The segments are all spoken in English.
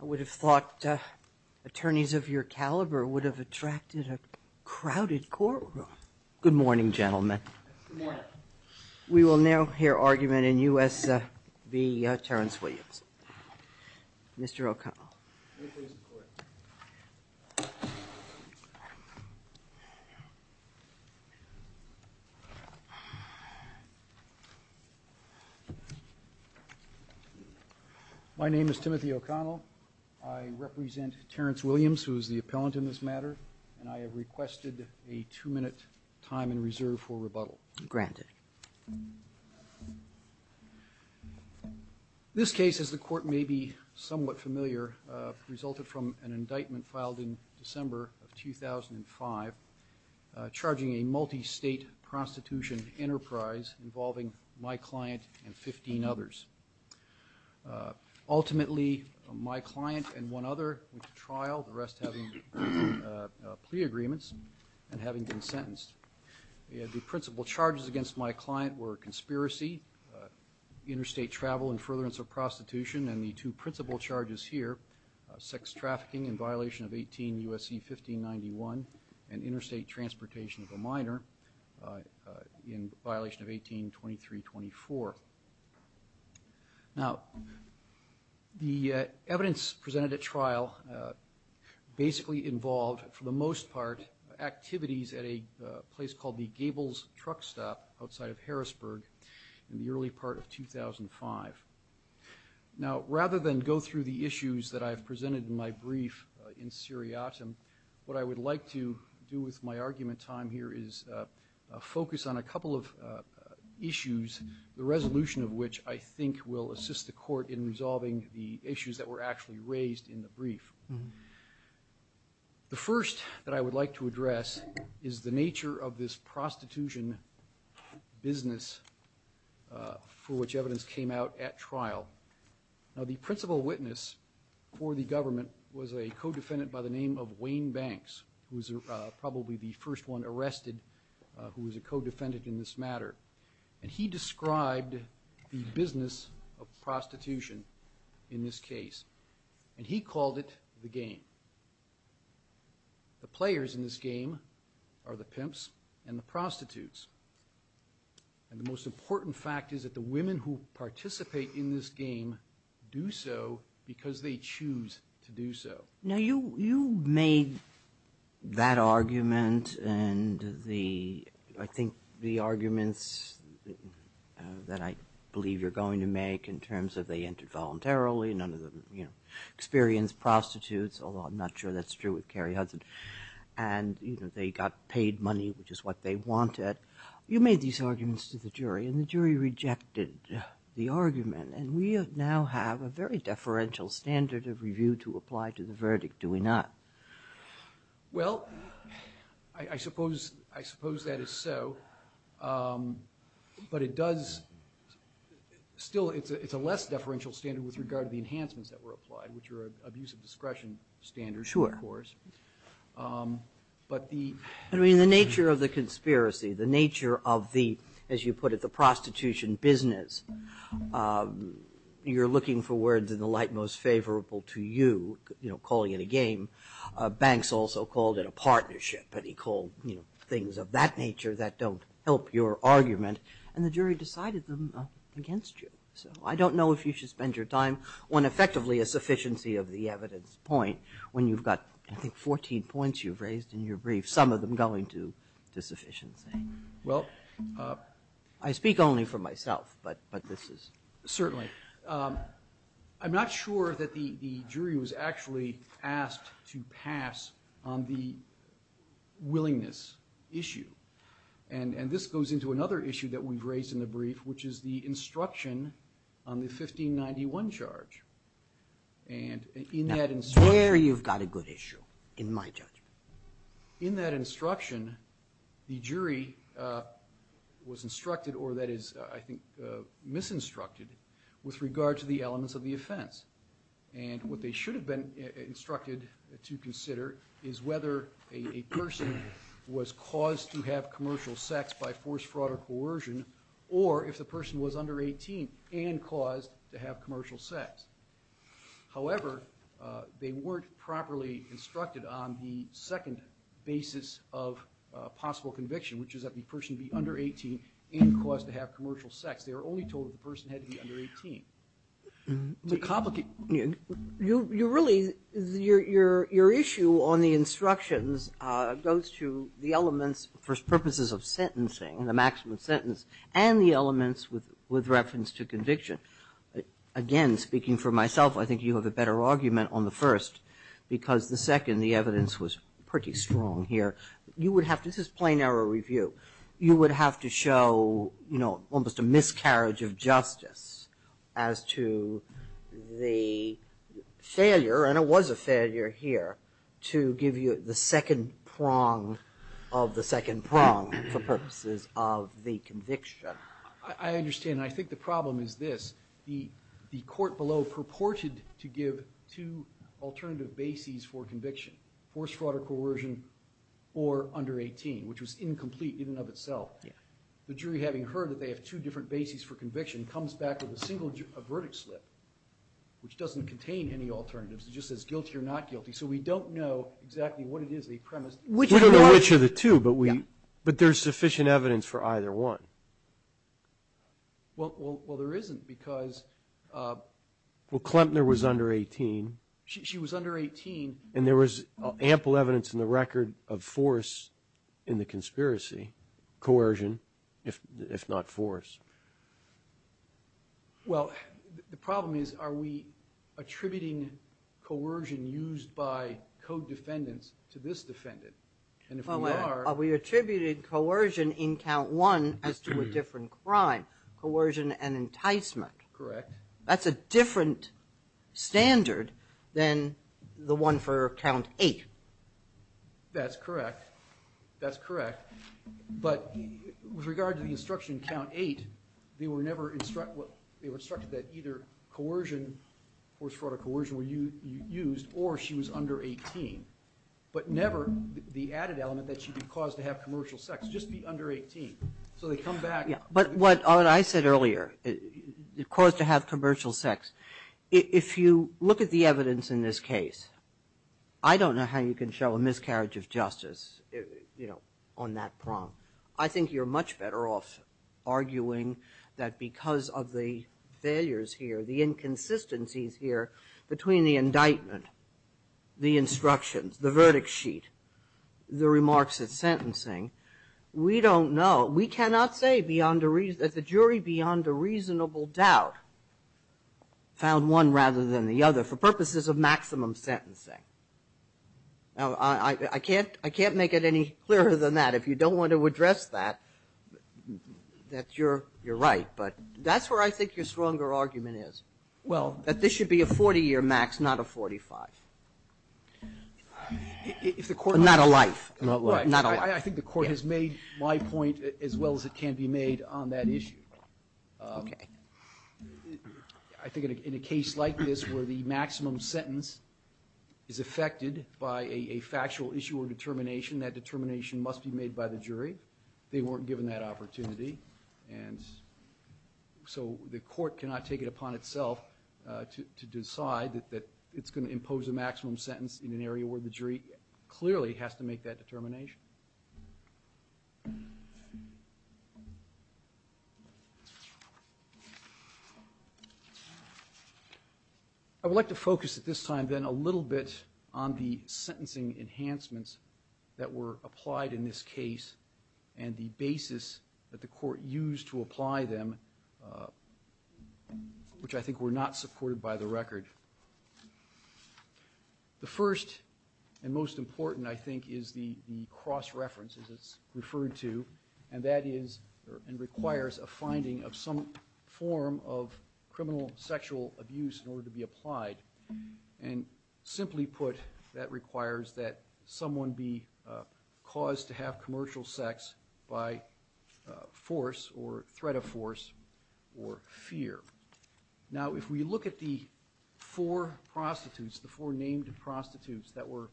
I would have thought attorneys of your caliber would have attracted a crowded courtroom. Good morning, gentlemen. We will now hear argument in U.S. v. Terrence Williams. Mr. O'Connell. My name is Timothy O'Connell. I represent Terrence Williams, who is the appellant in this matter, and I have requested a two-minute time in reserve for rebuttal. Granted. This case, as the court may be somewhat familiar, resulted from an indictment filed in December of 2005 charging a multi-state prostitution enterprise involving my client and 15 others. Ultimately, my client and one other went to trial, the rest having plea agreements and having been sentenced. The principal charges against my client were conspiracy, interstate travel, and furtherance of prostitution. And the two principal charges here, sex trafficking in violation of 18 U.S.C. 1591 and interstate transportation of a minor in violation of 18 2324. Now, the evidence presented at trial basically involved, for the most part, activities at a place called the Gables Truck Stop outside of Harrisburg in the early part of 2005. Now, rather than go through the issues that I've presented in my brief in seriatim, what I would like to do with my argument time here is focus on a couple of issues, the resolution of which I think will assist the court in resolving the issues that were actually raised in the brief. The first that I would like to address is the nature of this prostitution business for which evidence came out at trial. Now, the principal witness for the government was a co-defendant by the name of Wayne Banks, who was probably the first one arrested who was a co-defendant in this matter. And he described the business of prostitution in this case. And he called it the game. The players in this game are the pimps and the prostitutes. And the most important fact is that the women who participate in this game do so because they choose to do so. Now, you made that argument and I think the arguments that I believe you're going to make in terms of they entered voluntarily, none of them experienced prostitutes, although I'm not sure that's true with Carrie Hudson. And they got paid money, which is what they wanted. You made these arguments to the jury. And the jury rejected the argument. And we now have a very deferential standard of review to apply to the verdict, do we not? Well, I suppose that is so. But it does still, it's a less deferential standard with regard to the enhancements that were applied, which are abuse of discretion standards, of course. Sure. I mean, the nature of the conspiracy, the nature of the, as you put it, the prostitution business, you're looking for words in the light most favorable to you, you know, calling it a game. Banks also called it a partnership. But he called things of that nature that don't help your argument. And the jury decided them against you. So I don't know if you should spend your time on effectively a sufficiency of the evidence point when you've got, I think, 14 points you've raised in your brief, some of them going to sufficiency. Well. I speak only for myself, but this is. Certainly. I'm not sure that the jury was actually asked to pass on the willingness issue. And this goes into another issue that we've raised in the brief, which is the instruction on the 1591 charge. And in that instruction. I swear you've got a good issue, in my judgment. In that instruction, the jury was instructed, or that is, I think, misinstructed, with regard to the elements of the offense. And what they should have been instructed to consider is whether a person was caused to have commercial sex by forced fraud or coercion, or if the person was under 18 and caused to have commercial sex. However, they weren't properly instructed on the second basis of possible conviction, which is that the person be under 18 and caused to have commercial sex. They were only told that the person had to be under 18. It's a complicated. You really, your issue on the instructions goes to the elements for purposes of sentencing, the maximum sentence, and the elements with reference to conviction. Again, speaking for myself, I think you have a better argument on the first, because the second, the evidence was pretty strong here. You would have to, this is plain error review. You would have to show, you know, almost a miscarriage of justice as to the failure, and it was a failure here, to give you the second prong of the second prong for purposes of the conviction. I understand, and I think the problem is this. The court below purported to give two alternative bases for conviction, forced fraud or coercion, or under 18, which was incomplete in and of itself. The jury, having heard that they have two different bases for conviction, comes back with a single verdict slip, which doesn't contain any alternatives. It just says guilty or not guilty, so we don't know exactly what it is they premised. We don't know which of the two, but there's sufficient evidence for either one. Well, there isn't, because... Well, Klempner was under 18. She was under 18. And there was ample evidence in the record of force in the conspiracy, coercion, if not force. Well, the problem is, are we attributing coercion used by co-defendants to this defendant? And if we are... Well, we attributed coercion in count one as to a different crime, coercion and enticement. Correct. That's a different standard than the one for count eight. That's correct. That's correct. But with regard to the instruction in count eight, they were never instructed that either coercion, force, fraud, or coercion were used, or she was under 18. But never the added element that she'd be caused to have commercial sex, just be under 18. So they come back... But what I said earlier, caused to have commercial sex, if you look at the evidence in this case, I don't know how you can show a miscarriage of justice on that prong. I think you're much better off arguing that because of the failures here, the inconsistencies here, between the indictment, the instructions, the verdict sheet, the remarks at sentencing, we don't know. We cannot say that the jury beyond a reasonable doubt found one rather than the other for purposes of maximum sentencing. Now, I can't make it any clearer than that. If you don't want to address that, you're right, but that's where I think your stronger argument is. Well... That this should be a 40-year max, not a 45. Not a life. Not a life. I think the court has made my point as well as it can be made on that issue. Okay. I think in a case like this where the maximum sentence is affected by a factual issue or determination, that determination must be made by the jury. They weren't given that opportunity. And so the court cannot take it upon itself to decide that it's going to impose a maximum sentence in an area where the jury clearly has to make that determination. I would like to focus at this time then a little bit on the sentencing enhancements that were applied in this case and the basis that the court used to apply them, which I think were not supported by the record. The first and most important, I think, is the cross-reference, as it's referred to, and that is and requires a finding of some form of criminal sexual abuse in order to be applied. And simply put, that requires that someone be caused to have commercial sex by force or threat of force or fear. Now, if we look at the four prostitutes, the four named prostitutes that were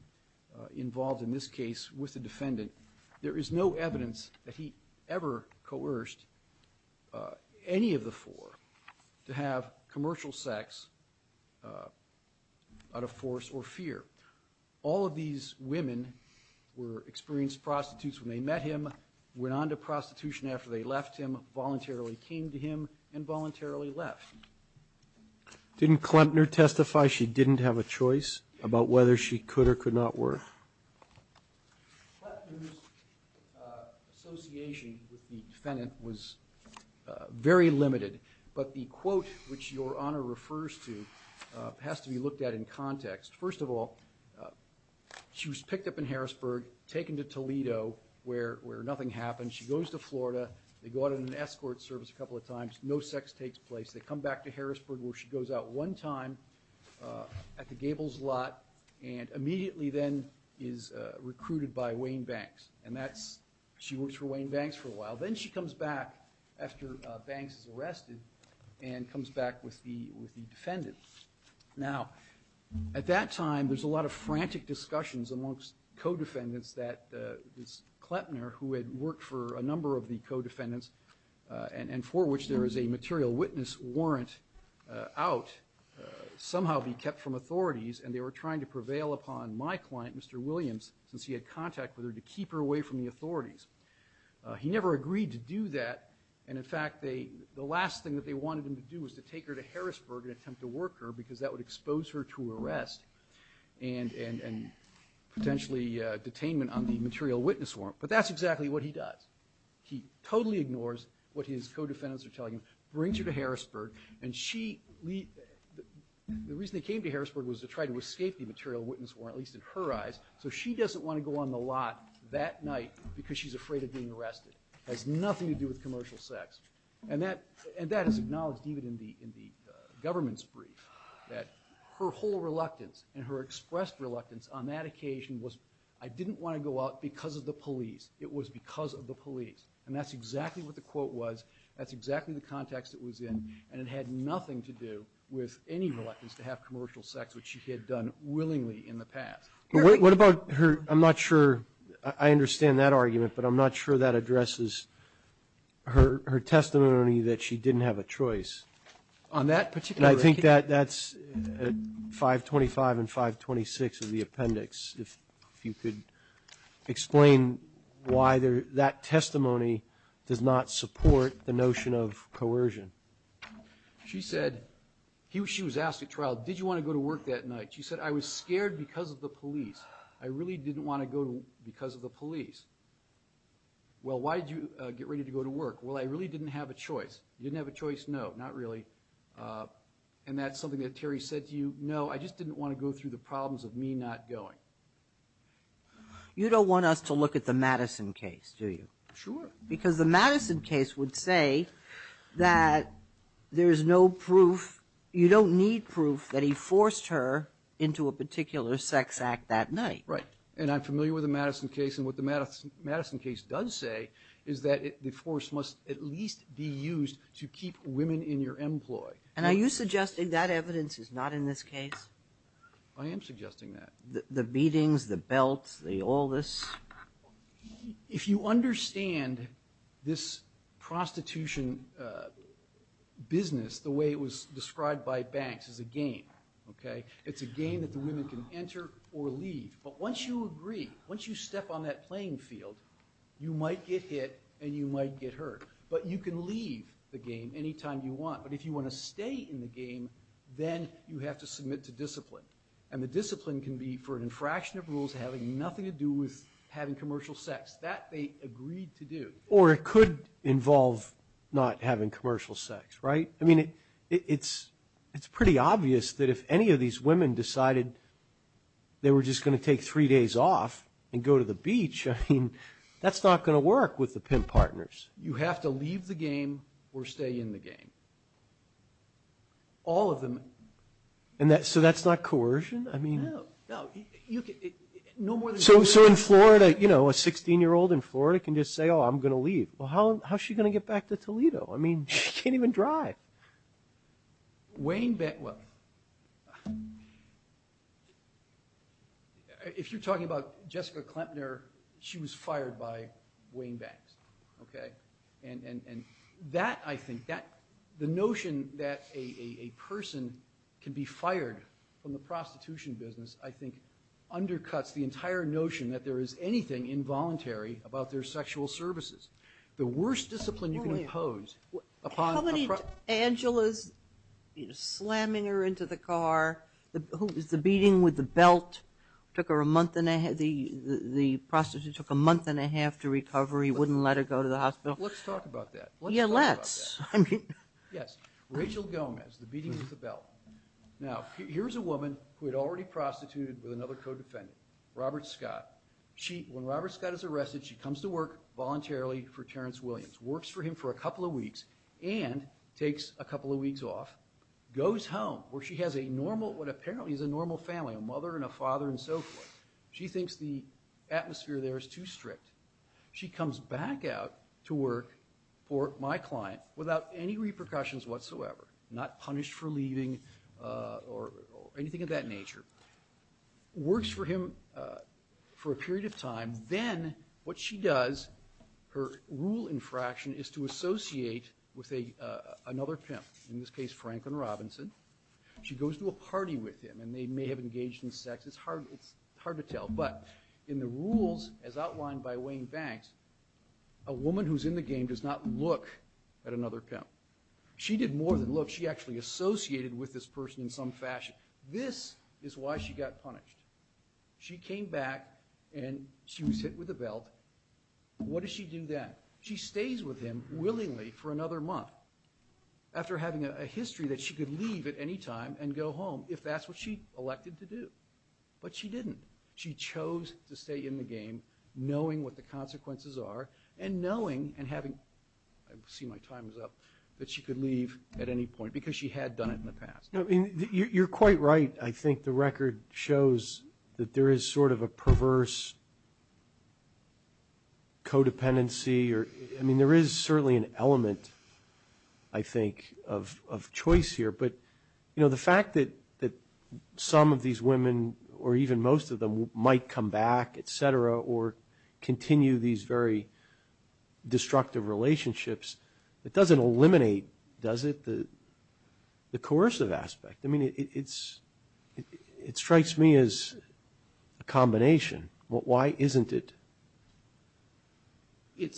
involved in this case with the defendant, there is no evidence that he ever coerced any of the four to have commercial sex out of force or fear. All of these women were experienced prostitutes when they met him, went on to prostitution after they left him, voluntarily came to him, and voluntarily left. Didn't Klempner testify she didn't have a choice about whether she could or could not work? Klempner's association with the defendant was very limited, but the quote which Your Honor refers to has to be looked at in context. First of all, she was picked up in Harrisburg, taken to Toledo, where nothing happened. She goes to Florida. They go out on an escort service a couple of times. No sex takes place. They come back to Harrisburg where she goes out one time at the Gables Lot and immediately then is recruited by Wayne Banks. She works for Wayne Banks for a while. Then she comes back after Banks is arrested and comes back with the defendant. Now, at that time, there's a lot of frantic discussions amongst co-defendants that Klempner, who had worked for a number of the co-defendants and for which there is a material witness warrant out, somehow be kept from authorities, and they were trying to prevail upon my client, Mr. Williams, since he had contact with her, to keep her away from the authorities. He never agreed to do that. In fact, the last thing that they wanted him to do was to take her to Harrisburg and attempt to work her because that would expose her to arrest and potentially detainment on the material witness warrant. But that's exactly what he does. He totally ignores what his co-defendants are telling him, brings her to Harrisburg, and the reason they came to Harrisburg was to try to escape the material witness warrant, at least in her eyes, so she doesn't want to go on the lot that night because she's afraid of being arrested. It has nothing to do with commercial sex. And that is acknowledged even in the government's brief, that her whole reluctance and her expressed reluctance on that occasion was, I didn't want to go out because of the police. It was because of the police. And that's exactly what the quote was. That's exactly the context it was in. And it had nothing to do with any reluctance to have commercial sex, which she had done willingly in the past. What about her, I'm not sure, I understand that argument, but I'm not sure that addresses her testimony that she didn't have a choice. On that particular record. And I think that's 525 and 526 of the appendix. If you could explain why that testimony does not support the notion of coercion. She said, she was asked at trial, did you want to go to work that night? She said, I was scared because of the police. I really didn't want to go because of the police. Well, why did you get ready to go to work? Well, I really didn't have a choice. You didn't have a choice? No, not really. And that's something that Terry said to you. No, I just didn't want to go through the problems of me not going. You don't want us to look at the Madison case, do you? Sure. Because the Madison case would say that there's no proof, you don't need proof that he forced her into a particular sex act that night. Right. And I'm familiar with the Madison case, and what the Madison case does say is that the force must at least be used to keep women in your employ. And are you suggesting that evidence is not in this case? I am suggesting that. The beatings, the belts, all this? If you understand this prostitution business the way it was described by Banks, it's a game, okay? It's a game that the women can enter or leave. But once you agree, once you step on that playing field, you might get hit and you might get hurt. But you can leave the game any time you want. But if you want to stay in the game, then you have to submit to discipline. And the discipline can be for an infraction of rules having nothing to do with having commercial sex. That they agreed to do. Or it could involve not having commercial sex, right? I mean, it's pretty obvious that if any of these women decided they were just going to take three days off and go to the beach, I mean, that's not going to work with the pimp partners. You have to leave the game or stay in the game. All of them. And so that's not coercion? No, no. So in Florida, you know, a 16-year-old in Florida can just say, oh, I'm going to leave. Well, how is she going to get back to Toledo? I mean, she can't even drive. Wayne Banks, well, if you're talking about Jessica Klempner, she was fired by Wayne Banks. Okay? And that, I think, the notion that a person can be fired from the prostitution business I think undercuts the entire notion that there is anything involuntary about their sexual services. The worst discipline you can impose upon a prostitute. How many Angelas slamming her into the car, the beating with the belt, took her a month and a half, the prostitute took a month and a half to recover, he wouldn't let her go to the hospital. Let's talk about that. Yeah, let's. Yes. Rachel Gomez, the beating with the belt. Now, here's a woman who had already prostituted with another co-defendant, Robert Scott. When Robert Scott is arrested, she comes to work voluntarily for Terrence Williams, works for him for a couple of weeks and takes a couple of what apparently is a normal family, a mother and a father and so forth. She thinks the atmosphere there is too strict. She comes back out to work for my client without any repercussions whatsoever, not punished for leaving or anything of that nature. Works for him for a period of time, then what she does, her rule infraction is to associate with another pimp, in this case Franklin Robinson. She goes to a party with him and they may have engaged in sex. It's hard to tell. But in the rules as outlined by Wayne Banks, a woman who's in the game does not look at another pimp. She did more than look. She actually associated with this person in some fashion. This is why she got punished. She came back and she was hit with a belt. What does she do then? She stays with him willingly for another month. After having a history that she could leave at any time and go home, if that's what she elected to do. But she didn't. She chose to stay in the game knowing what the consequences are and knowing and having, I see my time is up, that she could leave at any point because she had done it in the past. You're quite right. I think the record shows that there is sort of a perverse codependency. I mean, there is certainly an element, I think, of choice here. But the fact that some of these women, or even most of them, might come back, et cetera, or continue these very destructive relationships, it doesn't eliminate, does it, the coercive aspect. I mean, it strikes me as a combination. Why isn't it? It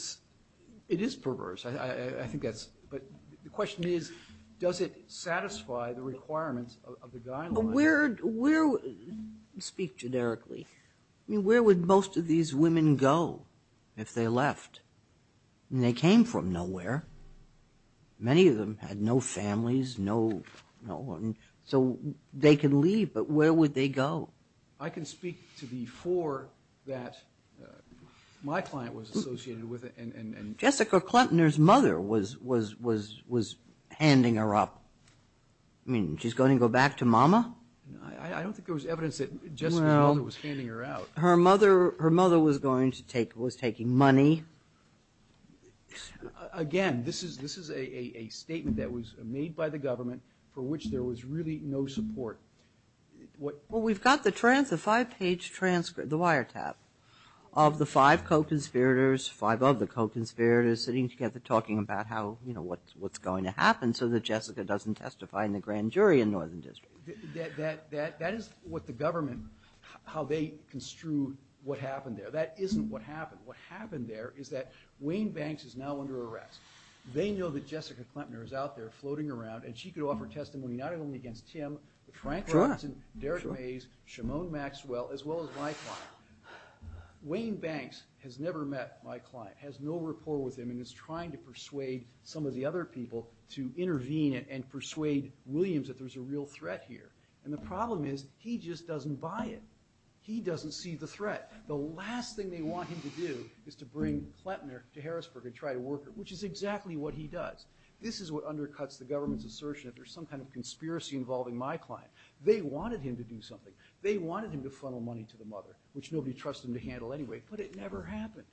is perverse. But the question is, does it satisfy the requirements of the guidelines? Speak generically. I mean, where would most of these women go if they left? They came from nowhere. Many of them had no families, no one. So they could leave, but where would they go? I can speak to the four that my client was associated with. Jessica Klentner's mother was handing her up. I mean, she's going to go back to Mama? I don't think there was evidence that Jessica's mother was handing her out. Her mother was taking money. Again, this is a statement that was made by the government for which there was really no support. Well, we've got the five-page transcript, the wiretap, of the five co-conspirators, five of the co-conspirators, sitting together talking about what's going to happen so that Jessica doesn't testify in the grand jury in Northern District. That is what the government, how they construed what happened there. That isn't what happened. What happened there is that Wayne Banks is now under arrest. They know that Jessica Klentner is out there floating around, and she could offer testimony not only against Tim, but Frank Robinson, Derek Mays, Shimon Maxwell, as well as my client. Wayne Banks has never met my client, has no rapport with him, and is trying to persuade some of the other people to intervene and persuade Williams that there's a real threat here. And the problem is he just doesn't buy it. He doesn't see the threat. The last thing they want him to do is to bring Klentner to Harrisburg and try to work it, which is exactly what he does. This is what undercuts the government's assertion that there's some kind of conspiracy involving my client. They wanted him to do something. They wanted him to funnel money to the mother, which nobody trusted him to handle anyway, but it never happened.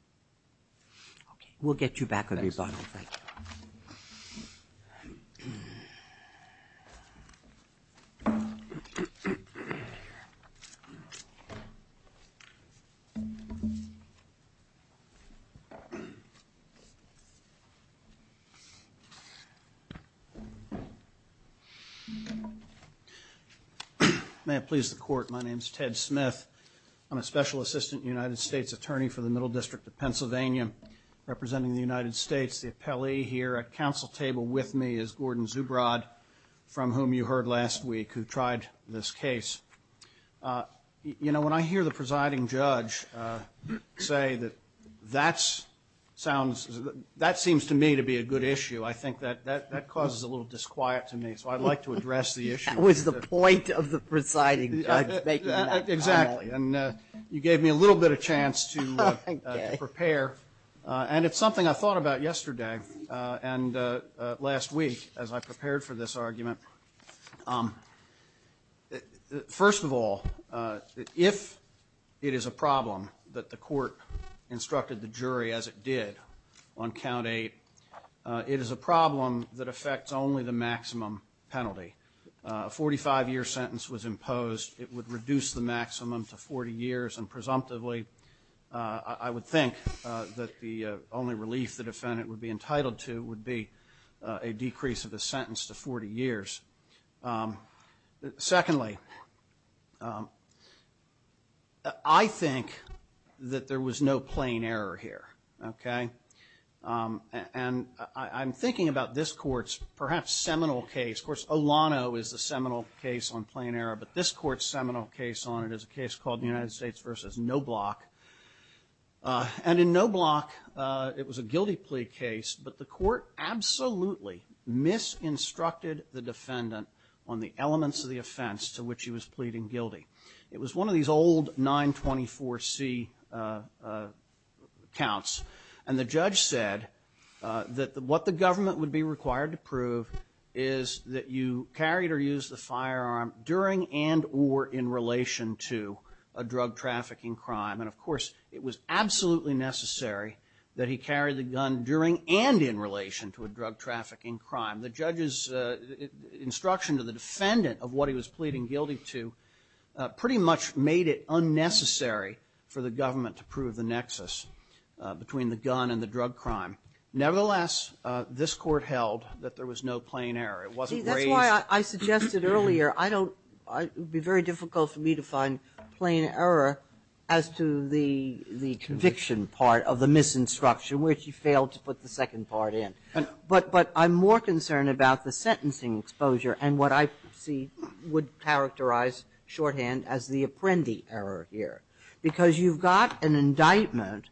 Thank you. Thank you. May it please the Court, my name's Ted Smith. I'm a Special Assistant United States Attorney for the Middle District of Pennsylvania, representing the United States. The appellee here at council table with me is Gordon Zubrod, from whom you heard last week, who tried this case. You know, when I hear the presiding judge say that that sounds – that seems to me to be a good issue. I think that causes a little disquiet to me, so I'd like to address the issue. That was the point of the presiding judge making that comment. Exactly. And you gave me a little bit of chance to prepare. And it's something I thought about yesterday and last week as I prepared for this argument. First of all, if it is a problem that the court instructed the jury, as it did on count eight, it is a problem that affects only the maximum penalty. A 45-year sentence was imposed. It would reduce the maximum to 40 years, and presumptively, I would think that the only relief the defendant would be entitled to would be a decrease of a sentence to 40 years. Secondly, I think that there was no plain error here, okay? And I'm thinking about this court's perhaps seminal case. Of course, Olano is the seminal case on plain error, but this court's seminal case on it is a case called the United States v. Noblock. And in Noblock, it was a guilty plea case, but the court absolutely misinstructed the defendant on the elements of the offense to which he was pleading guilty. It was one of these old 924C counts, and the judge said that what the government would be required to prove is that you carried or used the firearm during and or in relation to a drug trafficking crime. And, of course, it was absolutely necessary that he carry the gun during and in relation to a drug trafficking crime. The judge's instruction to the defendant of what he was pleading guilty to pretty much made it unnecessary for the government to prove the nexus between the gun and the drug crime. Nevertheless, this court held that there was no plain error. It wasn't raised. See, that's why I suggested earlier, it would be very difficult for me to find plain error as to the conviction part of the misinstruction, which you failed to put the second part in. But I'm more concerned about the sentencing exposure and what I see would characterize shorthand as the apprendee error here, because you've got an indictment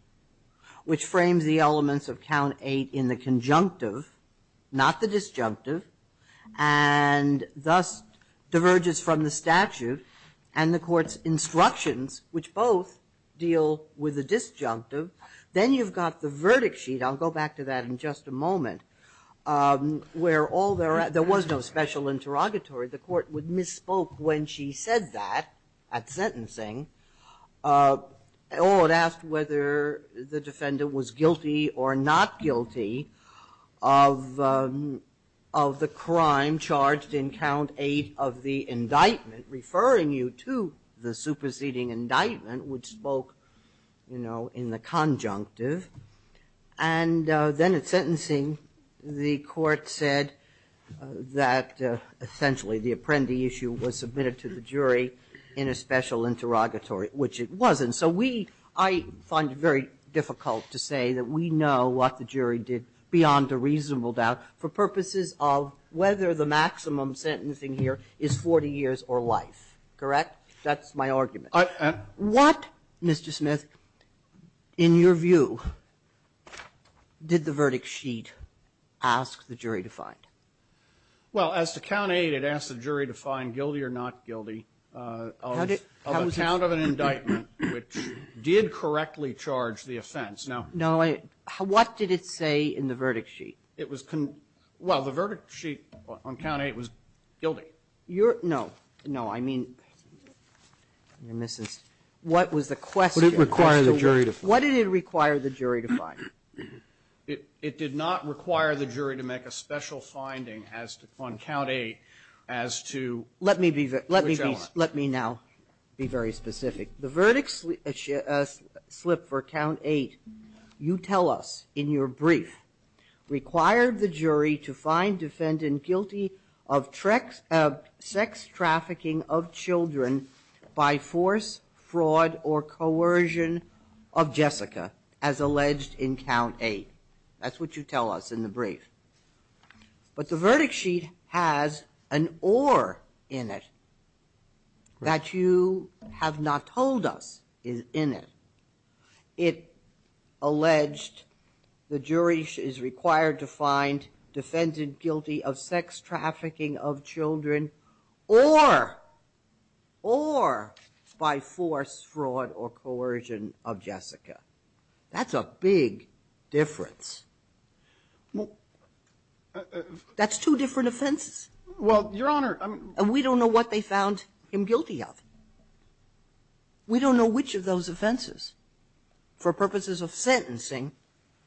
which frames the elements of Count 8 in the conjunctive, not the disjunctive, and thus diverges from the statute, and the court's instructions, which both deal with the disjunctive. Then you've got the verdict sheet. I'll go back to that in just a moment, where all there was no special interrogatory. The court would misspoke when she said that at sentencing. Or it asked whether the defendant was guilty or not guilty of the crime charged in Count 8 of the indictment, referring you to the superseding indictment, which spoke in the conjunctive. And then at sentencing, the court said that essentially the apprendee issue was submitted to the jury in a special interrogatory, which it wasn't. So I find it very difficult to say that we know what the jury did beyond a maximum sentencing here is 40 years or life. Correct? That's my argument. What, Mr. Smith, in your view, did the verdict sheet ask the jury to find? Well, as to Count 8, it asked the jury to find guilty or not guilty of a count of an indictment which did correctly charge the offense. Now, what did it say in the verdict sheet? It was, well, the verdict sheet on Count 8 was guilty. No. No. I mean, what was the question? Would it require the jury to find? What did it require the jury to find? It did not require the jury to make a special finding as to, on Count 8, as to which element. Let me now be very specific. The verdict slip for Count 8, you tell us in your brief, required the jury to find defendant guilty of sex trafficking of children by force, fraud, or coercion of Jessica, as alleged in Count 8. That's what you tell us in the brief. But the verdict sheet has an or in it that you have not told us is in it. It alleged the jury is required to find defendant guilty of sex trafficking of children or by force, fraud, or coercion of Jessica. That's a big difference. That's two different offenses. Well, Your Honor, I mean we don't know what they found him guilty of. We don't know which of those offenses, for purposes of sentencing,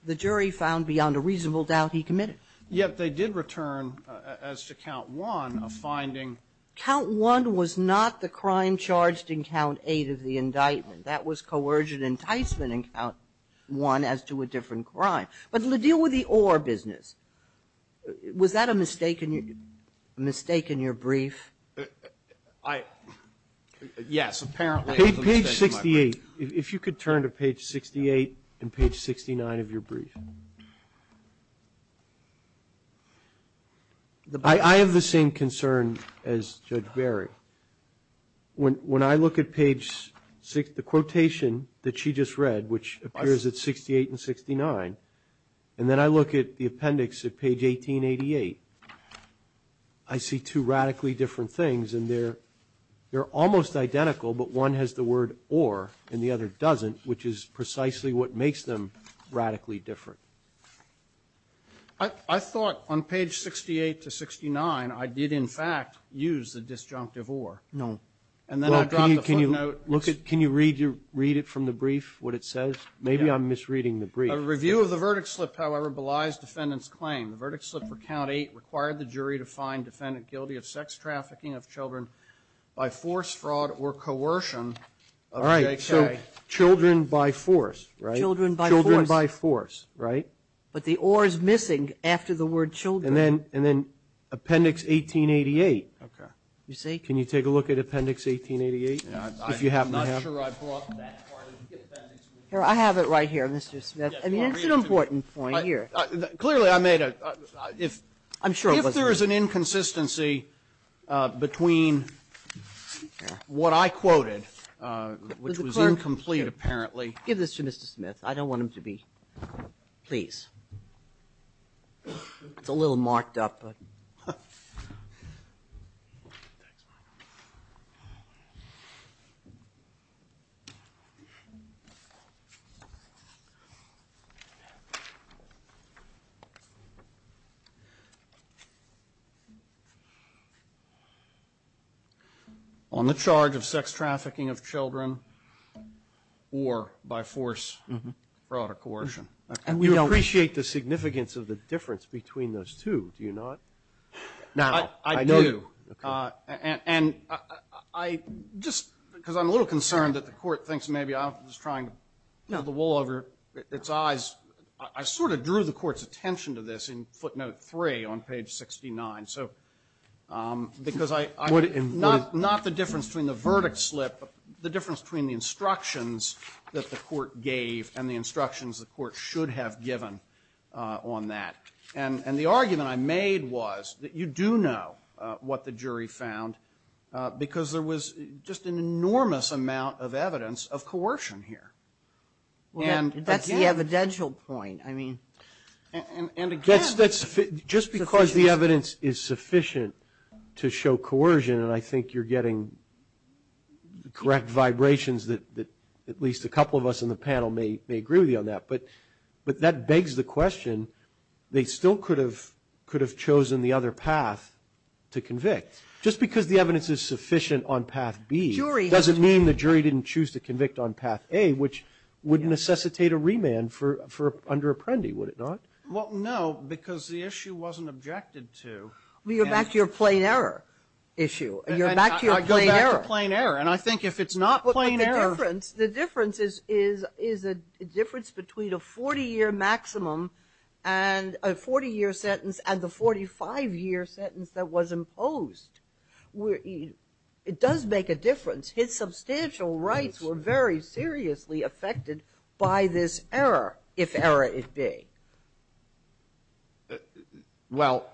the jury found beyond a reasonable doubt he committed. Yet they did return, as to Count 1, a finding. Count 1 was not the crime charged in Count 8 of the indictment. That was coercion enticement in Count 1 as to a different crime. But to deal with the or business, was that a mistake in your brief? Yes, apparently. Page 68. If you could turn to page 68 and page 69 of your brief. I have the same concern as Judge Berry. When I look at page 6, the quotation that she just read, which appears at 68 and 69, and then I look at the appendix at page 1888, I see two radically different things, and they're almost identical, but one has the word or and the other doesn't, which is precisely what makes them radically different. I thought on page 68 to 69 I did, in fact, use the disjunctive or. No. And then I dropped the footnote. Can you read it from the brief, what it says? Maybe I'm misreading the brief. A review of the verdict slip, however, belies defendant's claim. The verdict slip for Count 8 required the jury to find defendant guilty of sex trafficking of children by force, fraud, or coercion of JK. All right. So children by force, right? Children by force. Children by force, right? But the or is missing after the word children. And then appendix 1888. Okay. You see? Can you take a look at appendix 1888 if you happen to have it? I'm not sure I brought that part of the appendix. Here. I have it right here, Mr. Smith. I mean, it's an important point here. Clearly, I made a --" I'm sure it wasn't. If there is an inconsistency between what I quoted, which was incomplete, apparently --" Give this to Mr. Smith. I don't want him to be. Please. It's a little marked up, but. Thanks, Michael. On the charge of sex trafficking of children or by force, fraud, or coercion. And we appreciate the significance of the difference between those two, do you not? No. I do. Okay. And I just, because I'm a little concerned that the Court thinks maybe I'm just trying to pull the wool over its eyes. I sort of drew the Court's attention to this in footnote 3 on page 69. So because I'm not the difference between the verdict slip, but the difference between the instructions that the Court gave and the instructions the Court should have given on that. And the argument I made was that you do know what the jury found, because there was just an enormous amount of evidence of coercion here. Well, that's the evidential point. I mean. And again. Just because the evidence is sufficient to show coercion, and I think you're getting the correct vibrations that at least a couple of us in the panel may agree with you on that. But that begs the question. They still could have chosen the other path to convict. Just because the evidence is sufficient on path B doesn't mean the jury didn't choose to convict on path A, which would necessitate a remand under Apprendi, would it not? Well, no, because the issue wasn't objected to. You're back to your plain error issue. You're back to your plain error. I go back to plain error. And I think if it's not plain error. The difference is a difference between a 40-year maximum and a 40-year sentence and the 45-year sentence that was imposed. It does make a difference. His substantial rights were very seriously affected by this error, if error it be. Well.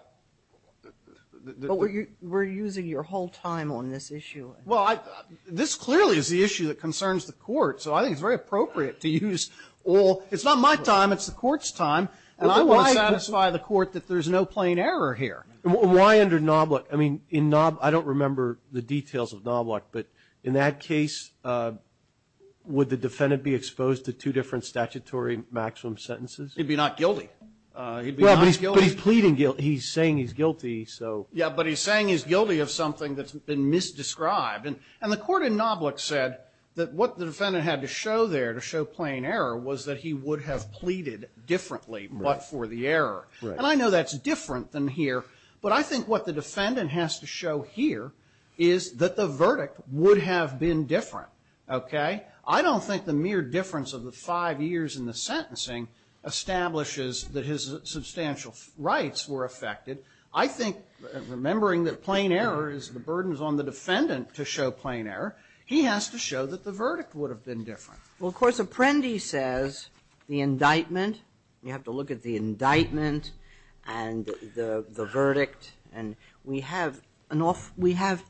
But we're using your whole time on this issue. Well, this clearly is the issue that concerns the court. So I think it's very appropriate to use all. It's not my time. It's the court's time. And I want to satisfy the court that there's no plain error here. Why under Knobloch? I mean, in Knobloch, I don't remember the details of Knobloch. But in that case, would the defendant be exposed to two different statutory maximum sentences? He'd be not guilty. He'd be not guilty. But he's pleading guilty. He's saying he's guilty, so. Yeah, but he's saying he's guilty of something that's been misdescribed. And the court in Knobloch said that what the defendant had to show there, to show plain error, was that he would have pleaded differently but for the error. And I know that's different than here. But I think what the defendant has to show here is that the verdict would have been different, okay? I don't think the mere difference of the five years in the sentencing establishes that his substantial rights were affected. I think, remembering that plain error is the burdens on the defendant to show plain error, he has to show that the verdict would have been different. Well, of course, Apprendi says the indictment, you have to look at the indictment and the verdict, and we have an off we have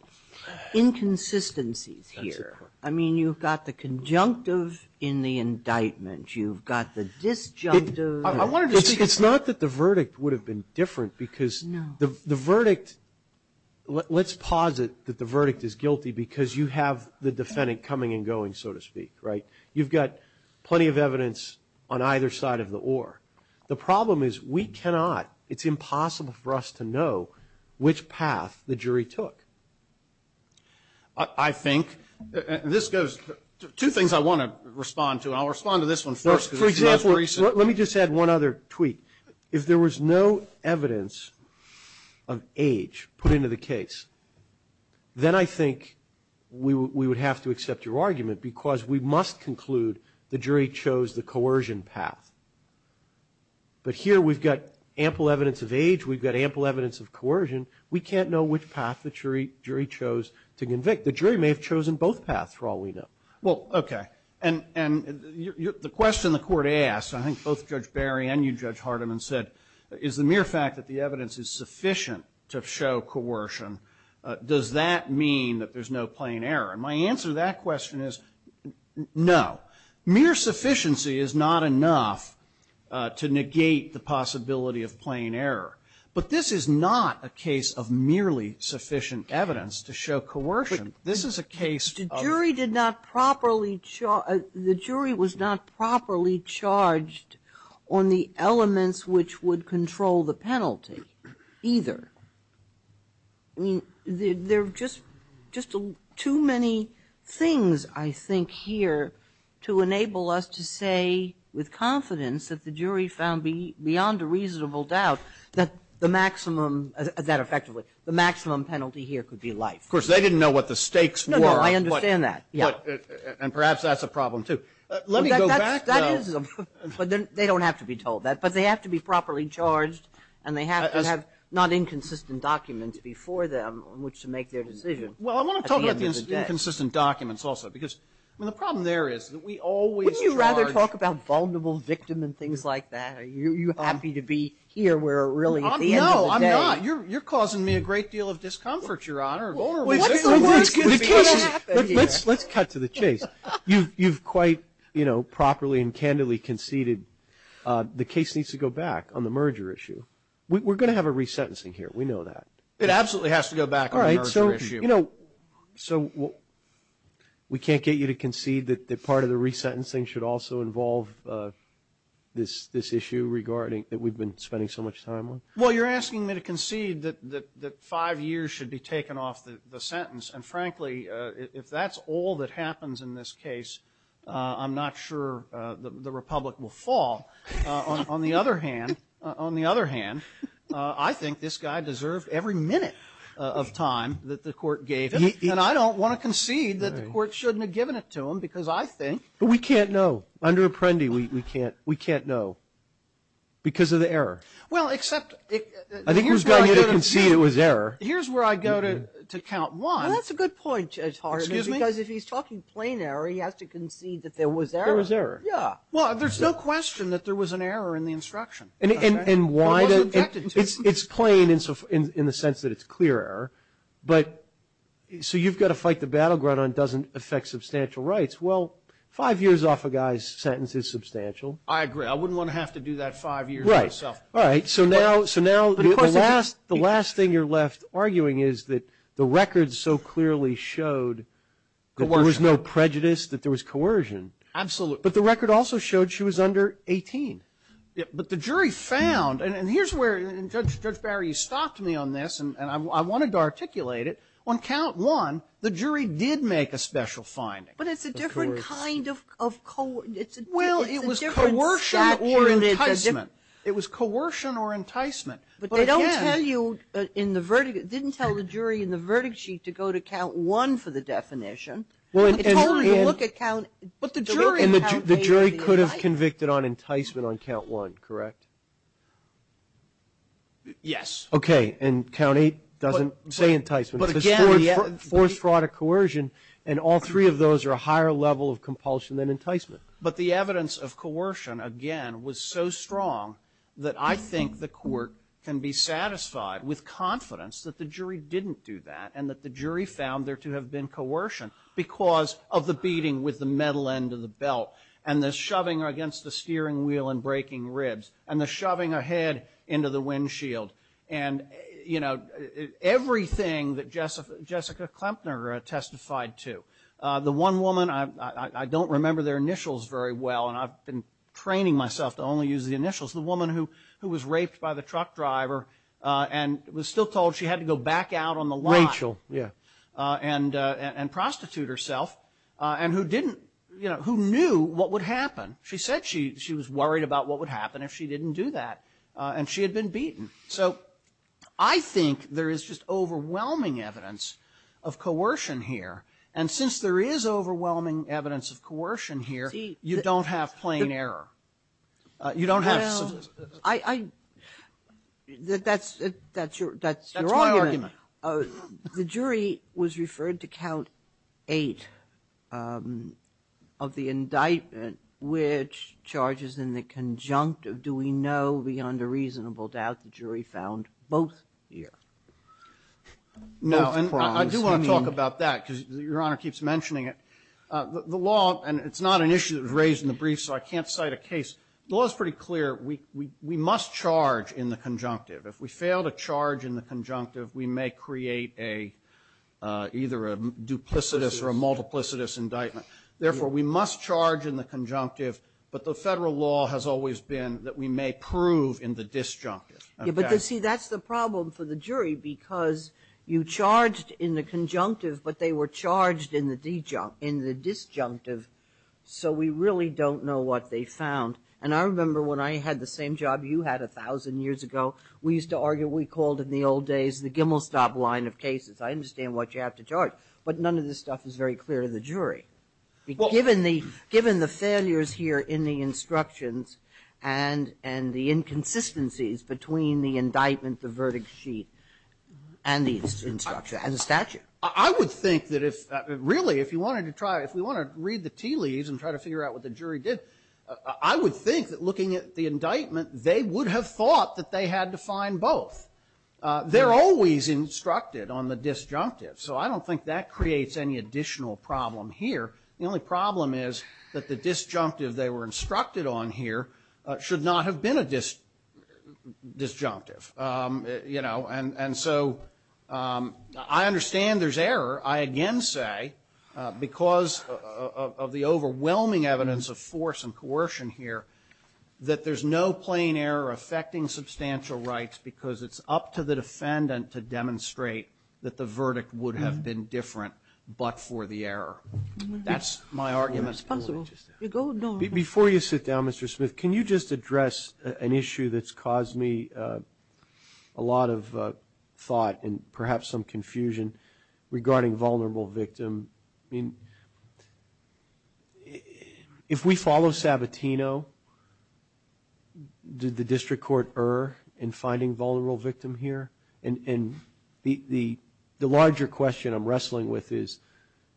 inconsistencies here. I mean, you've got the conjunctive in the indictment. You've got the disjunctive. It's not that the verdict would have been different because the verdict, let's posit that the verdict is guilty because you have the defendant coming and going, so to speak, right? You've got plenty of evidence on either side of the oar. The problem is we cannot, it's impossible for us to know which path the jury took. I think, and this goes, two things I want to respond to, and I'll respond to this one first. For example, let me just add one other tweet. If there was no evidence of age put into the case, then I think we would have to accept your argument because we must conclude the jury chose the coercion path. But here we've got ample evidence of age. We've got ample evidence of coercion. We can't know which path the jury chose to convict. The jury may have chosen both paths for all we know. Well, okay. And the question the Court asked, I think both Judge Barry and you, Judge Hardiman, said is the mere fact that the evidence is sufficient to show coercion, does that mean that there's no plain error? And my answer to that question is no. Mere sufficiency is not enough to negate the possibility of plain error. But this is not a case of merely sufficient evidence to show coercion. The jury was not properly charged on the elements which would control the penalty, either. I mean, there are just too many things, I think, here to enable us to say with confidence that the jury found beyond a reasonable doubt that the maximum penalty here could be life. Of course, they didn't know what the stakes were. No, no, I understand that. Yeah. And perhaps that's a problem, too. Let me go back, though. That is a problem. But they don't have to be told that. But they have to be properly charged, and they have to have not inconsistent documents before them on which to make their decision at the end of the day. Well, I want to talk about the inconsistent documents also because, I mean, the problem there is that we always charge – Wouldn't you rather talk about vulnerable victim and things like that? Are you happy to be here where really at the end of the day – No, I'm not. You're causing me a great deal of discomfort, Your Honor. What's the worst that could happen here? Let's cut to the chase. You've quite, you know, properly and candidly conceded the case needs to go back on the merger issue. We're going to have a resentencing here. We know that. It absolutely has to go back on the merger issue. All right. So, you know, we can't get you to concede that part of the resentencing should also involve this issue regarding – that we've been spending so much time on? Well, you're asking me to concede that five years should be taken off the sentence. And, frankly, if that's all that happens in this case, I'm not sure the Republic will fall. On the other hand, I think this guy deserved every minute of time that the court gave him. And I don't want to concede that the court shouldn't have given it to him because I think – But we can't know. Under Apprendi, we can't know because of the error. Well, except – I think he was going to concede it was error. Here's where I go to count one. Well, that's a good point, Judge Hartley. Excuse me? Because if he's talking plain error, he has to concede that there was error. There was error. Yeah. Well, there's no question that there was an error in the instruction. And why – It wasn't detected. It's plain in the sense that it's clear error. But so you've got to fight the battleground on doesn't affect substantial rights. Well, five years off a guy's sentence is substantial. I agree. I wouldn't want to have to do that five years myself. All right. So now the last thing you're left arguing is that the records so clearly showed that there was no prejudice, that there was coercion. Absolutely. But the record also showed she was under 18. But the jury found – and here's where, Judge Barry, you stopped me on this, and I wanted to articulate it. On count one, the jury did make a special finding. But it's a different kind of – Well, it was coercion or enticement. It was coercion or enticement. But again – But they don't tell you in the verdict – didn't tell the jury in the verdict sheet to go to count one for the definition. It told them to look at count – But the jury – The jury could have convicted on enticement on count one, correct? Yes. Okay. And count eight doesn't say enticement. But again – It says forced fraud or coercion, and all three of those are a higher level of compulsion than enticement. But the evidence of coercion, again, was so strong that I think the court can be satisfied with confidence that the jury didn't do that and that the jury found there to have been coercion because of the beating with the metal end of the belt and the shoving against the steering wheel and breaking ribs and the shoving her head into the windshield and, you know, everything that Jessica Klempner testified to. The one woman – I don't remember their initials very well, and I've been training myself to only use the initials. The woman who was raped by the truck driver and was still told she had to go back out on the lot – Rachel, yeah. And prostitute herself and who didn't – you know, who knew what would happen. She said she was worried about what would happen if she didn't do that, and she had been beaten. So I think there is just overwhelming evidence of coercion here. And since there is overwhelming evidence of coercion here, you don't have plain error. You don't have – Well, I – that's your argument. That's my argument. The jury was referred to count eight of the indictment, which charges in the conjunct of doing no beyond a reasonable doubt the jury found both here. No, and I do want to talk about that because Your Honor keeps mentioning it. The law – and it's not an issue that was raised in the brief, so I can't cite a case. The law is pretty clear. We must charge in the conjunctive. If we fail to charge in the conjunctive, we may create a – either a duplicitous or a multiplicitous indictment. Therefore, we must charge in the conjunctive, but the Federal law has always been that we may prove in the disjunctive. Okay? So, see, that's the problem for the jury because you charged in the conjunctive, but they were charged in the disjunctive, so we really don't know what they found. And I remember when I had the same job you had a thousand years ago, we used to argue – we called in the old days the Gimmelstab line of cases. I understand what you have to charge, but none of this stuff is very clear to the jury. Given the failures here in the instructions and the inconsistencies between the indictment, the verdict sheet, and the instruction and the statute. I would think that if – really, if you wanted to try – if we wanted to read the tea leaves and try to figure out what the jury did, I would think that looking at the indictment, they would have thought that they had to find both. They're always instructed on the disjunctive, so I don't think that creates any additional problem here. The only problem is that the disjunctive they were instructed on here should not have been a disjunctive. You know, and so I understand there's error. I again say, because of the overwhelming evidence of force and coercion here, that there's no plain error affecting substantial rights because it's up to the defendant to demonstrate that the verdict would have been different but for the error. That's my argument. Before you sit down, Mr. Smith, can you just address an issue that's caused me a lot of thought and perhaps some confusion regarding vulnerable victim? I mean, if we follow Sabatino, did the district court err in finding vulnerable victim here? And the larger question I'm wrestling with is,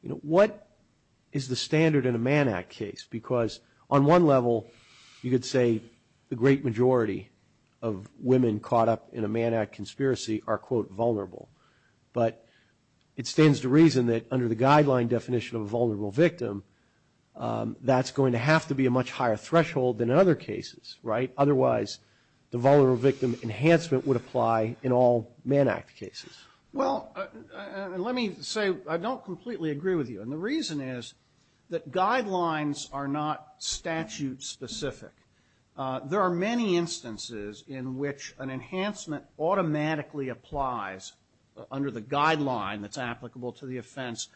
you know, what is the standard in a Mann Act case? Because on one level, you could say the great majority of women caught up in a Mann Act conspiracy are, quote, vulnerable. But it stands to reason that under the guideline definition of a vulnerable victim, that's going to have to be a much higher threshold than other cases, right? Well, let me say I don't completely agree with you. And the reason is that guidelines are not statute specific. There are many instances in which an enhancement automatically applies under the guideline that's applicable to the offense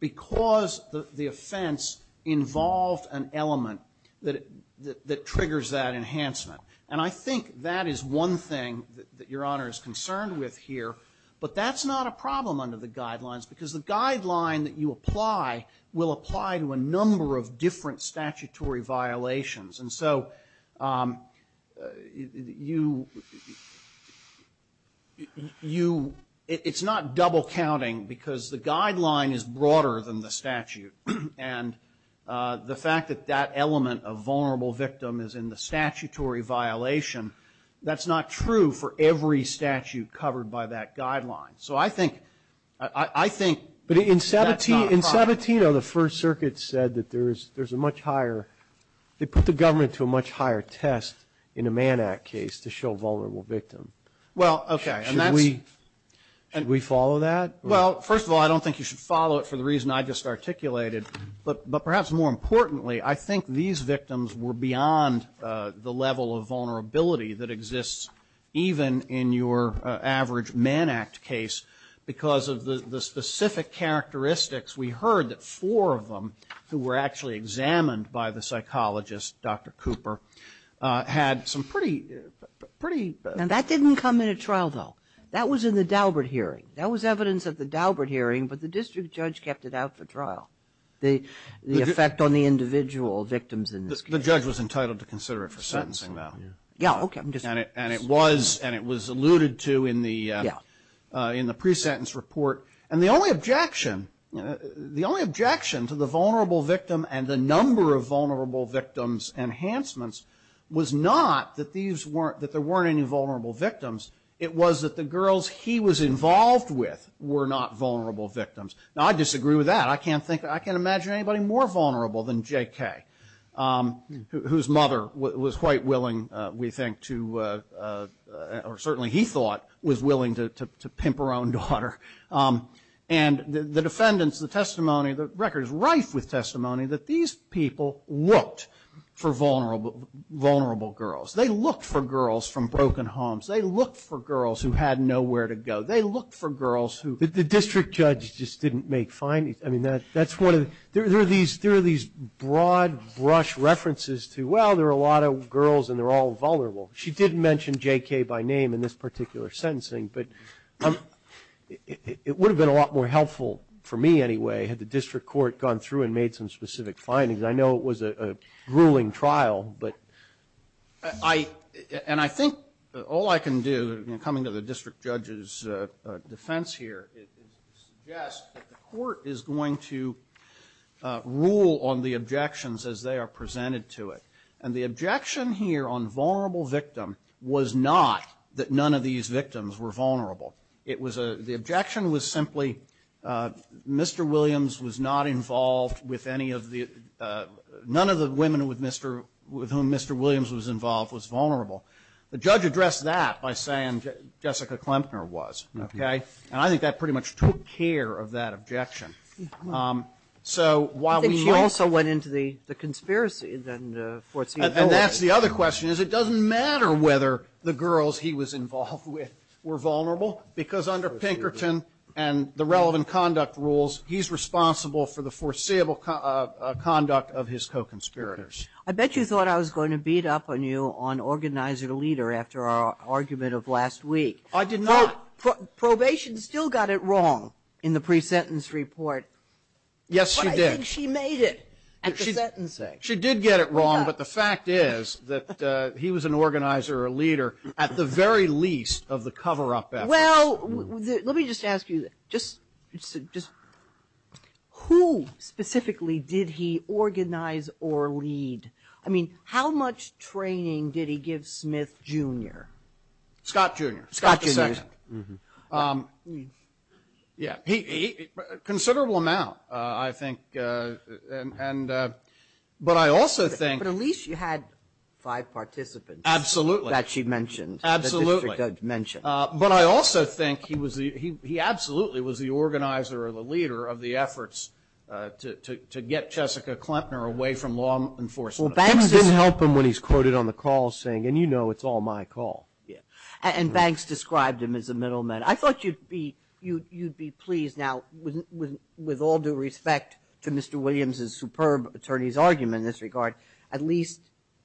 because the offense involved an element that triggers that enhancement. And I think that is one thing that Your Honor is concerned with here. But that's not a problem under the guidelines because the guideline that you apply will apply to a number of different statutory violations. And so you, it's not double counting because the guideline is broader than the statute. And the fact that that element of vulnerable victim is in the statutory violation, that's not true for every statute covered by that guideline. So I think that's not a problem. But in Sabatino, the First Circuit said that there's a much higher, they put the government to a much higher test in a Mann Act case to show vulnerable victim. Well, okay. Should we follow that? Well, first of all, I don't think you should follow it for the reason I just articulated. But perhaps more importantly, I think these victims were beyond the level of vulnerability that exists even in your average Mann Act case because of the specific characteristics. We heard that four of them who were actually examined by the psychologist, Dr. Cooper, had some pretty, pretty. And that didn't come into trial, though. That was in the Daubert hearing. That was evidence at the Daubert hearing, but the district judge kept it out for trial, the effect on the individual victims in this case. The judge was entitled to consider it for sentencing, though. Yeah, okay. And it was alluded to in the pre-sentence report. And the only objection to the vulnerable victim and the number of vulnerable victims enhancements was not that there weren't any vulnerable victims. It was that the girls he was involved with were not vulnerable victims. Now, I disagree with that. I can't think, I can't imagine anybody more vulnerable than J.K., whose mother was quite willing, we think, to, or certainly he thought, was willing to pimp her own daughter. And the defendants, the testimony, the record is rife with testimony that these people looked for vulnerable girls. They looked for girls from broken homes. They looked for girls who had nowhere to go. They looked for girls who the district judge just didn't make findings. I mean, that's one of the, there are these broad brush references to, well, there are a lot of girls and they're all vulnerable. She didn't mention J.K. by name in this particular sentencing. But it would have been a lot more helpful, for me anyway, had the district court gone through and made some specific findings. I know it was a grueling trial. But I, and I think all I can do, coming to the district judge's defense here, is suggest that the court is going to rule on the objections as they are presented to it. And the objection here on vulnerable victim was not that none of these victims were vulnerable. It was a, the objection was simply Mr. Williams was not involved with any of the, none of the women with Mr., with whom Mr. Williams was involved was vulnerable. The judge addressed that by saying Jessica Klempner was. Okay? And I think that pretty much took care of that objection. So while we might. Kagan. I think she also went into the conspiracy then, the foreseeable. And that's the other question, is it doesn't matter whether the girls he was involved with were vulnerable, because under Pinkerton and the relevant conduct rules, he's responsible for the foreseeable conduct of his co-conspirators. I bet you thought I was going to beat up on you on organizer-leader after our argument of last week. I did not. Probation still got it wrong in the pre-sentence report. Yes, she did. But I think she made it at the sentencing. She did get it wrong. But the fact is that he was an organizer-leader at the very least of the cover-up efforts. Well, let me just ask you, just who specifically did he organize or lead? I mean, how much training did he give Smith, Jr.? Scott, Jr. Scott, Jr. Scott II. Yeah. He, considerable amount, I think. And, but I also think. But at least you had five participants. Absolutely. That she mentioned. Absolutely. But I also think he was the, he absolutely was the organizer or the leader of the efforts to get Jessica Klempner away from law enforcement. Well, Banks didn't help him when he's quoted on the call saying, and you know, it's all my call. Yeah. And Banks described him as a middleman. I thought you'd be, you'd be pleased. Now, with all due respect to Mr. Williams's superb attorney's argument in this regard, at least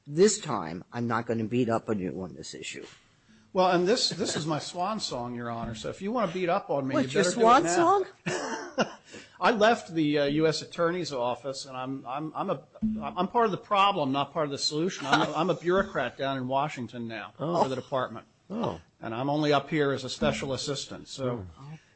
this time I'm not going to beat up on you on this issue. Well, and this, this is my swan song, Your Honor, so if you want to beat up on me, you better do it now. What, your swan song? I left the U.S. Attorney's Office and I'm, I'm a, I'm part of the problem, not part of the solution. I'm a bureaucrat down in Washington now for the department. Oh. And I'm only up here as a special assistant. So,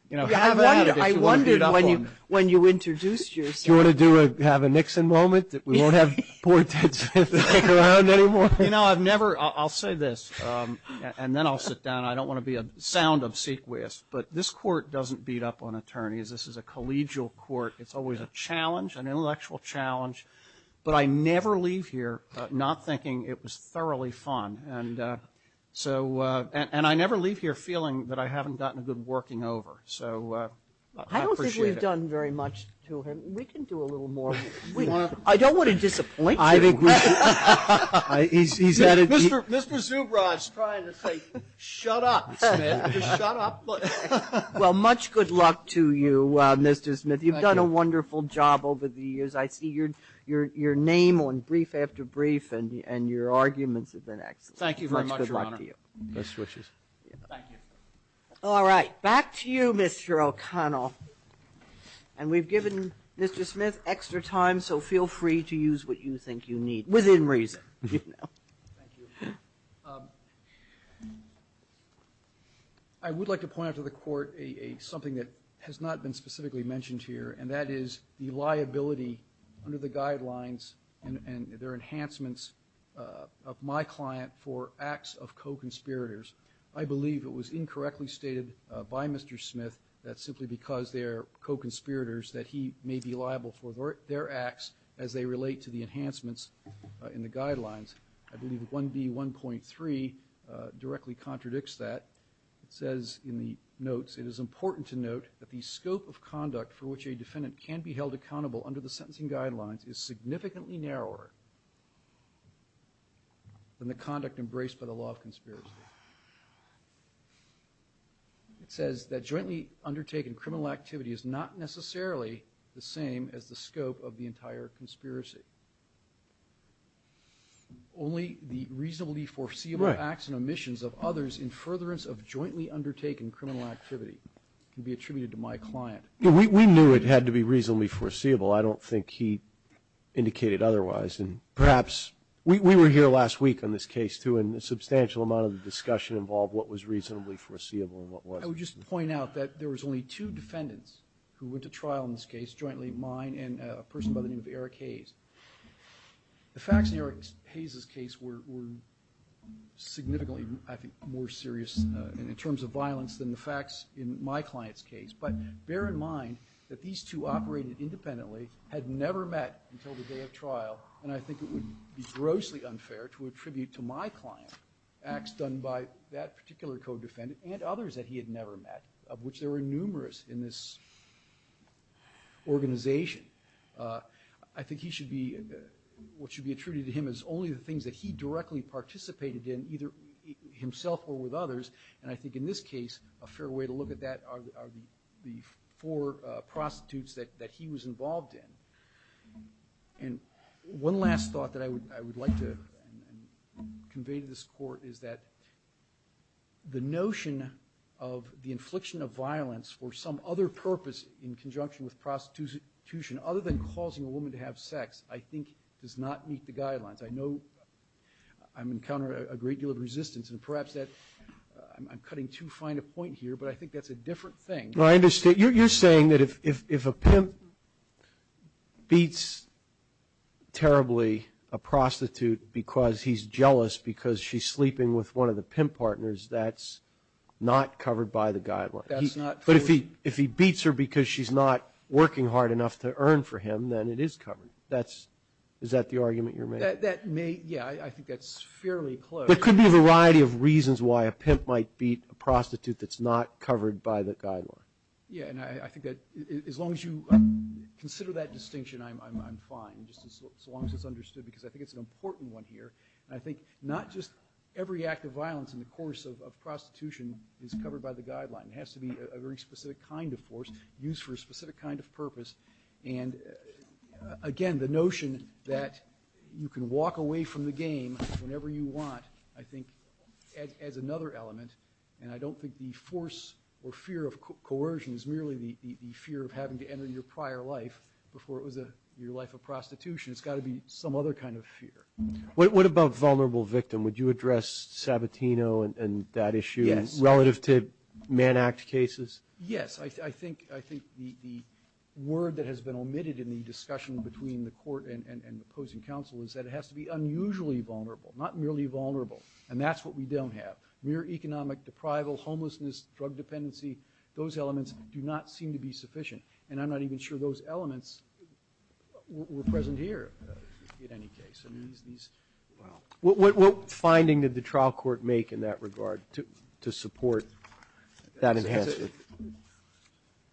you know, have at it if you want to beat up on me. I wondered when you, when you introduced yourself. Do you want to do a, have a Nixon moment that we won't have poor Ted Smith around anymore? You know, I've never, I'll say this, and then I'll sit down. I don't want to be a sound obsequious, but this court doesn't beat up on attorneys. This is a collegial court. It's always a challenge, an intellectual challenge. But I never leave here not thinking it was thoroughly fun. And so, and I never leave here feeling that I haven't gotten a good working over. So I appreciate it. I don't think we've done very much to him. We can do a little more. I don't want to disappoint you. I agree. Mr. Zubrod's trying to say, shut up, Smith. Just shut up. Well, much good luck to you, Mr. Smith. Thank you. You've done a wonderful job over the years. I see your name on brief after brief and your arguments have been excellent. Thank you very much, Your Honor. Much good luck to you. Thank you. All right. Back to you, Mr. O'Connell. And we've given Mr. Smith extra time, so feel free to use what you think you need, within reason. Thank you. I would like to point out to the court something that has not been specifically mentioned here, and that is the liability under the guidelines and their enhancements of my client for acts of co-conspirators. I believe it was incorrectly stated by Mr. Smith that simply because they are co-conspirators that he may be liable for their acts as they relate to the enhancements in the guidelines. I believe 1B1.3 directly contradicts that. It says in the notes, it is important to note that the scope of conduct for which a defendant can be held accountable under the sentencing guidelines is significantly narrower than the conduct embraced by the law of conspiracy. It says that jointly undertaken criminal activity is not necessarily the same as the scope of the entire conspiracy. Only the reasonably foreseeable acts and omissions of others in furtherance of jointly undertaken criminal activity can be attributed to my client. We knew it had to be reasonably foreseeable. I don't think he indicated otherwise. We were here last week on this case, too, and a substantial amount of the discussion involved what was reasonably foreseeable and what wasn't. I would just point out that there was only two defendants who went to trial in this case, jointly mine and a person by the name of Eric Hayes. The facts in Eric Hayes' case were significantly, I think, more serious in terms of violence than the facts in my client's case, but bear in mind that these two operated independently, had never met until the day of trial, and I think it would be grossly unfair to attribute to my client acts done by that particular co-defendant and others that he had never met, of which there were numerous in this organization. I think he should be, what should be attributed to him is only the things that he directly participated in, either himself or with others, and I think in this case a fair way to look at that are the four prostitutes that he was involved in. And one last thought that I would like to convey to this court is that the notion of the infliction of violence for some other purpose in conjunction with prostitution, other than causing a woman to have sex, I think does not meet the guidelines. I know I'm encountering a great deal of resistance, and perhaps I'm cutting too fine a point here, but I think that's a different thing. Well, I understand. You're saying that if a pimp beats terribly a prostitute because he's jealous because she's sleeping with one of the pimp partners, that's not covered by the guidelines. That's not true. But if he beats her because she's not working hard enough to earn for him, then it is covered. Is that the argument you're making? Yeah, I think that's fairly close. There could be a variety of reasons why a pimp might beat a prostitute that's not covered by the guideline. Yeah, and I think that as long as you consider that distinction, I'm fine, just as long as it's understood, because I think it's an important one here. And I think not just every act of violence in the course of prostitution is covered by the guideline. It has to be a very specific kind of force used for a specific kind of purpose. And, again, the notion that you can walk away from the game whenever you want, I think, adds another element. And I don't think the force or fear of coercion is merely the fear of having to enter your prior life before it was your life of prostitution. It's got to be some other kind of fear. What about vulnerable victim? Would you address Sabatino and that issue relative to Man Act cases? Yes. I think the word that has been omitted in the discussion between the court and the opposing counsel is that it has to be unusually vulnerable, not merely vulnerable. And that's what we don't have. Mere economic deprival, homelessness, drug dependency, those elements do not seem to be sufficient. And I'm not even sure those elements were present here, in any case. What finding did the trial court make in that regard to support that enhancement?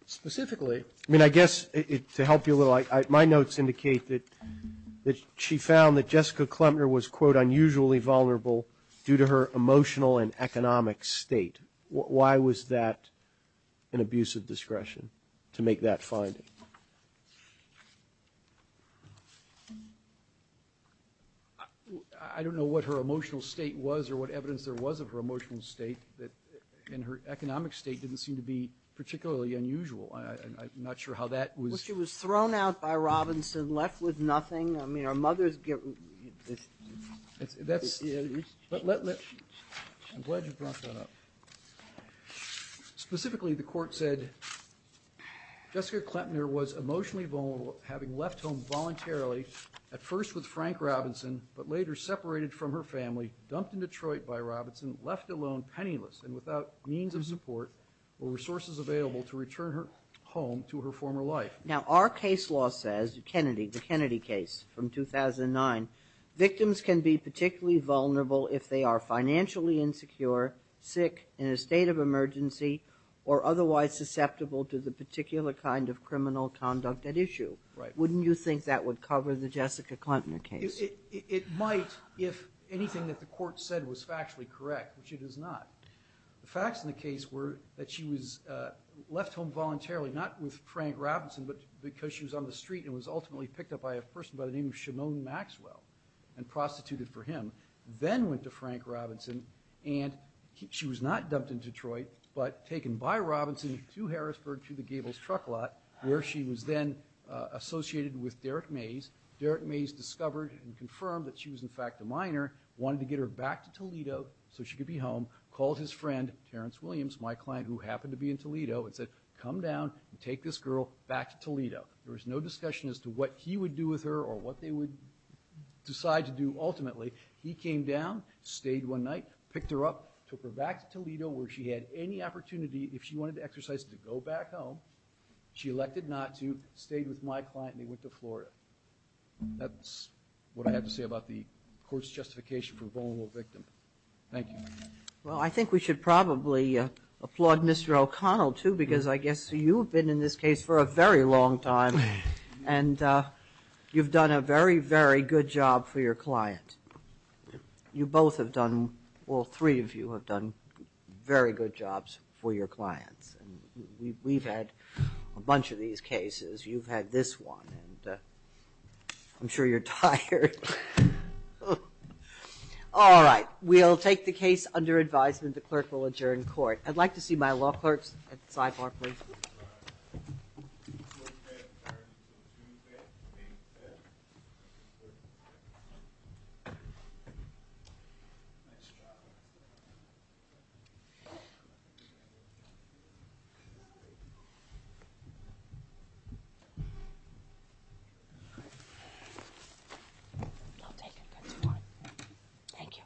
Specifically. I mean, I guess to help you a little, my notes indicate that she found that Jessica Klemner was, quote, unusually vulnerable due to her emotional and economic state. Why was that an abuse of discretion to make that finding? I don't know what her emotional state was or what evidence there was of her emotional state. And her economic state didn't seem to be particularly unusual. I'm not sure how that was. Well, she was thrown out by Robinson, left with nothing. I mean, her mother's. That's. I'm glad you brought that up. Specifically, the court said Jessica Klemner was emotionally vulnerable, having left home voluntarily, at first with Frank Robinson, but later separated from her family, dumped in Detroit by Robinson, left alone penniless and without means of support or resources available to return her home to her former life. Now, our case law says, Kennedy, the Kennedy case from 2009, victims can be particularly vulnerable if they are financially insecure, sick, in a state of emergency, or otherwise susceptible to the particular kind of criminal conduct at issue. Wouldn't you think that would cover the Jessica Klemner case? It might if anything that the court said was factually correct, which it is not. The facts in the case were that she was left home voluntarily, not with Frank Robinson, but because she was on the street and was ultimately picked up by a person by the name of Shimon Maxwell and prostituted for him, then went to Frank Robinson, and she was not dumped in Detroit, but taken by Robinson to Harrisburg to the Gables truck lot, where she was then associated with Derrick Mays. Derrick Mays discovered and confirmed that she was in fact a minor, wanted to get her back to Toledo so she could be home, called his friend, Terrence Williams, my client who happened to be in Toledo, and said, There was no discussion as to what he would do with her or what they would decide to do ultimately. He came down, stayed one night, picked her up, took her back to Toledo where she had any opportunity, if she wanted to exercise it, to go back home. She elected not to, stayed with my client, and he went to Florida. That's what I have to say about the court's justification for a vulnerable victim. Thank you. Well, I think we should probably applaud Mr. O'Connell, too, because I guess you've been in this case for a very long time, and you've done a very, very good job for your client. You both have done, well, three of you have done very good jobs for your clients. We've had a bunch of these cases. You've had this one, and I'm sure you're tired. All right. We'll take the case under advisement. The clerk will adjourn court. I'd like to see my law clerks at the sidebar, please. Thank you. See you later. Take care.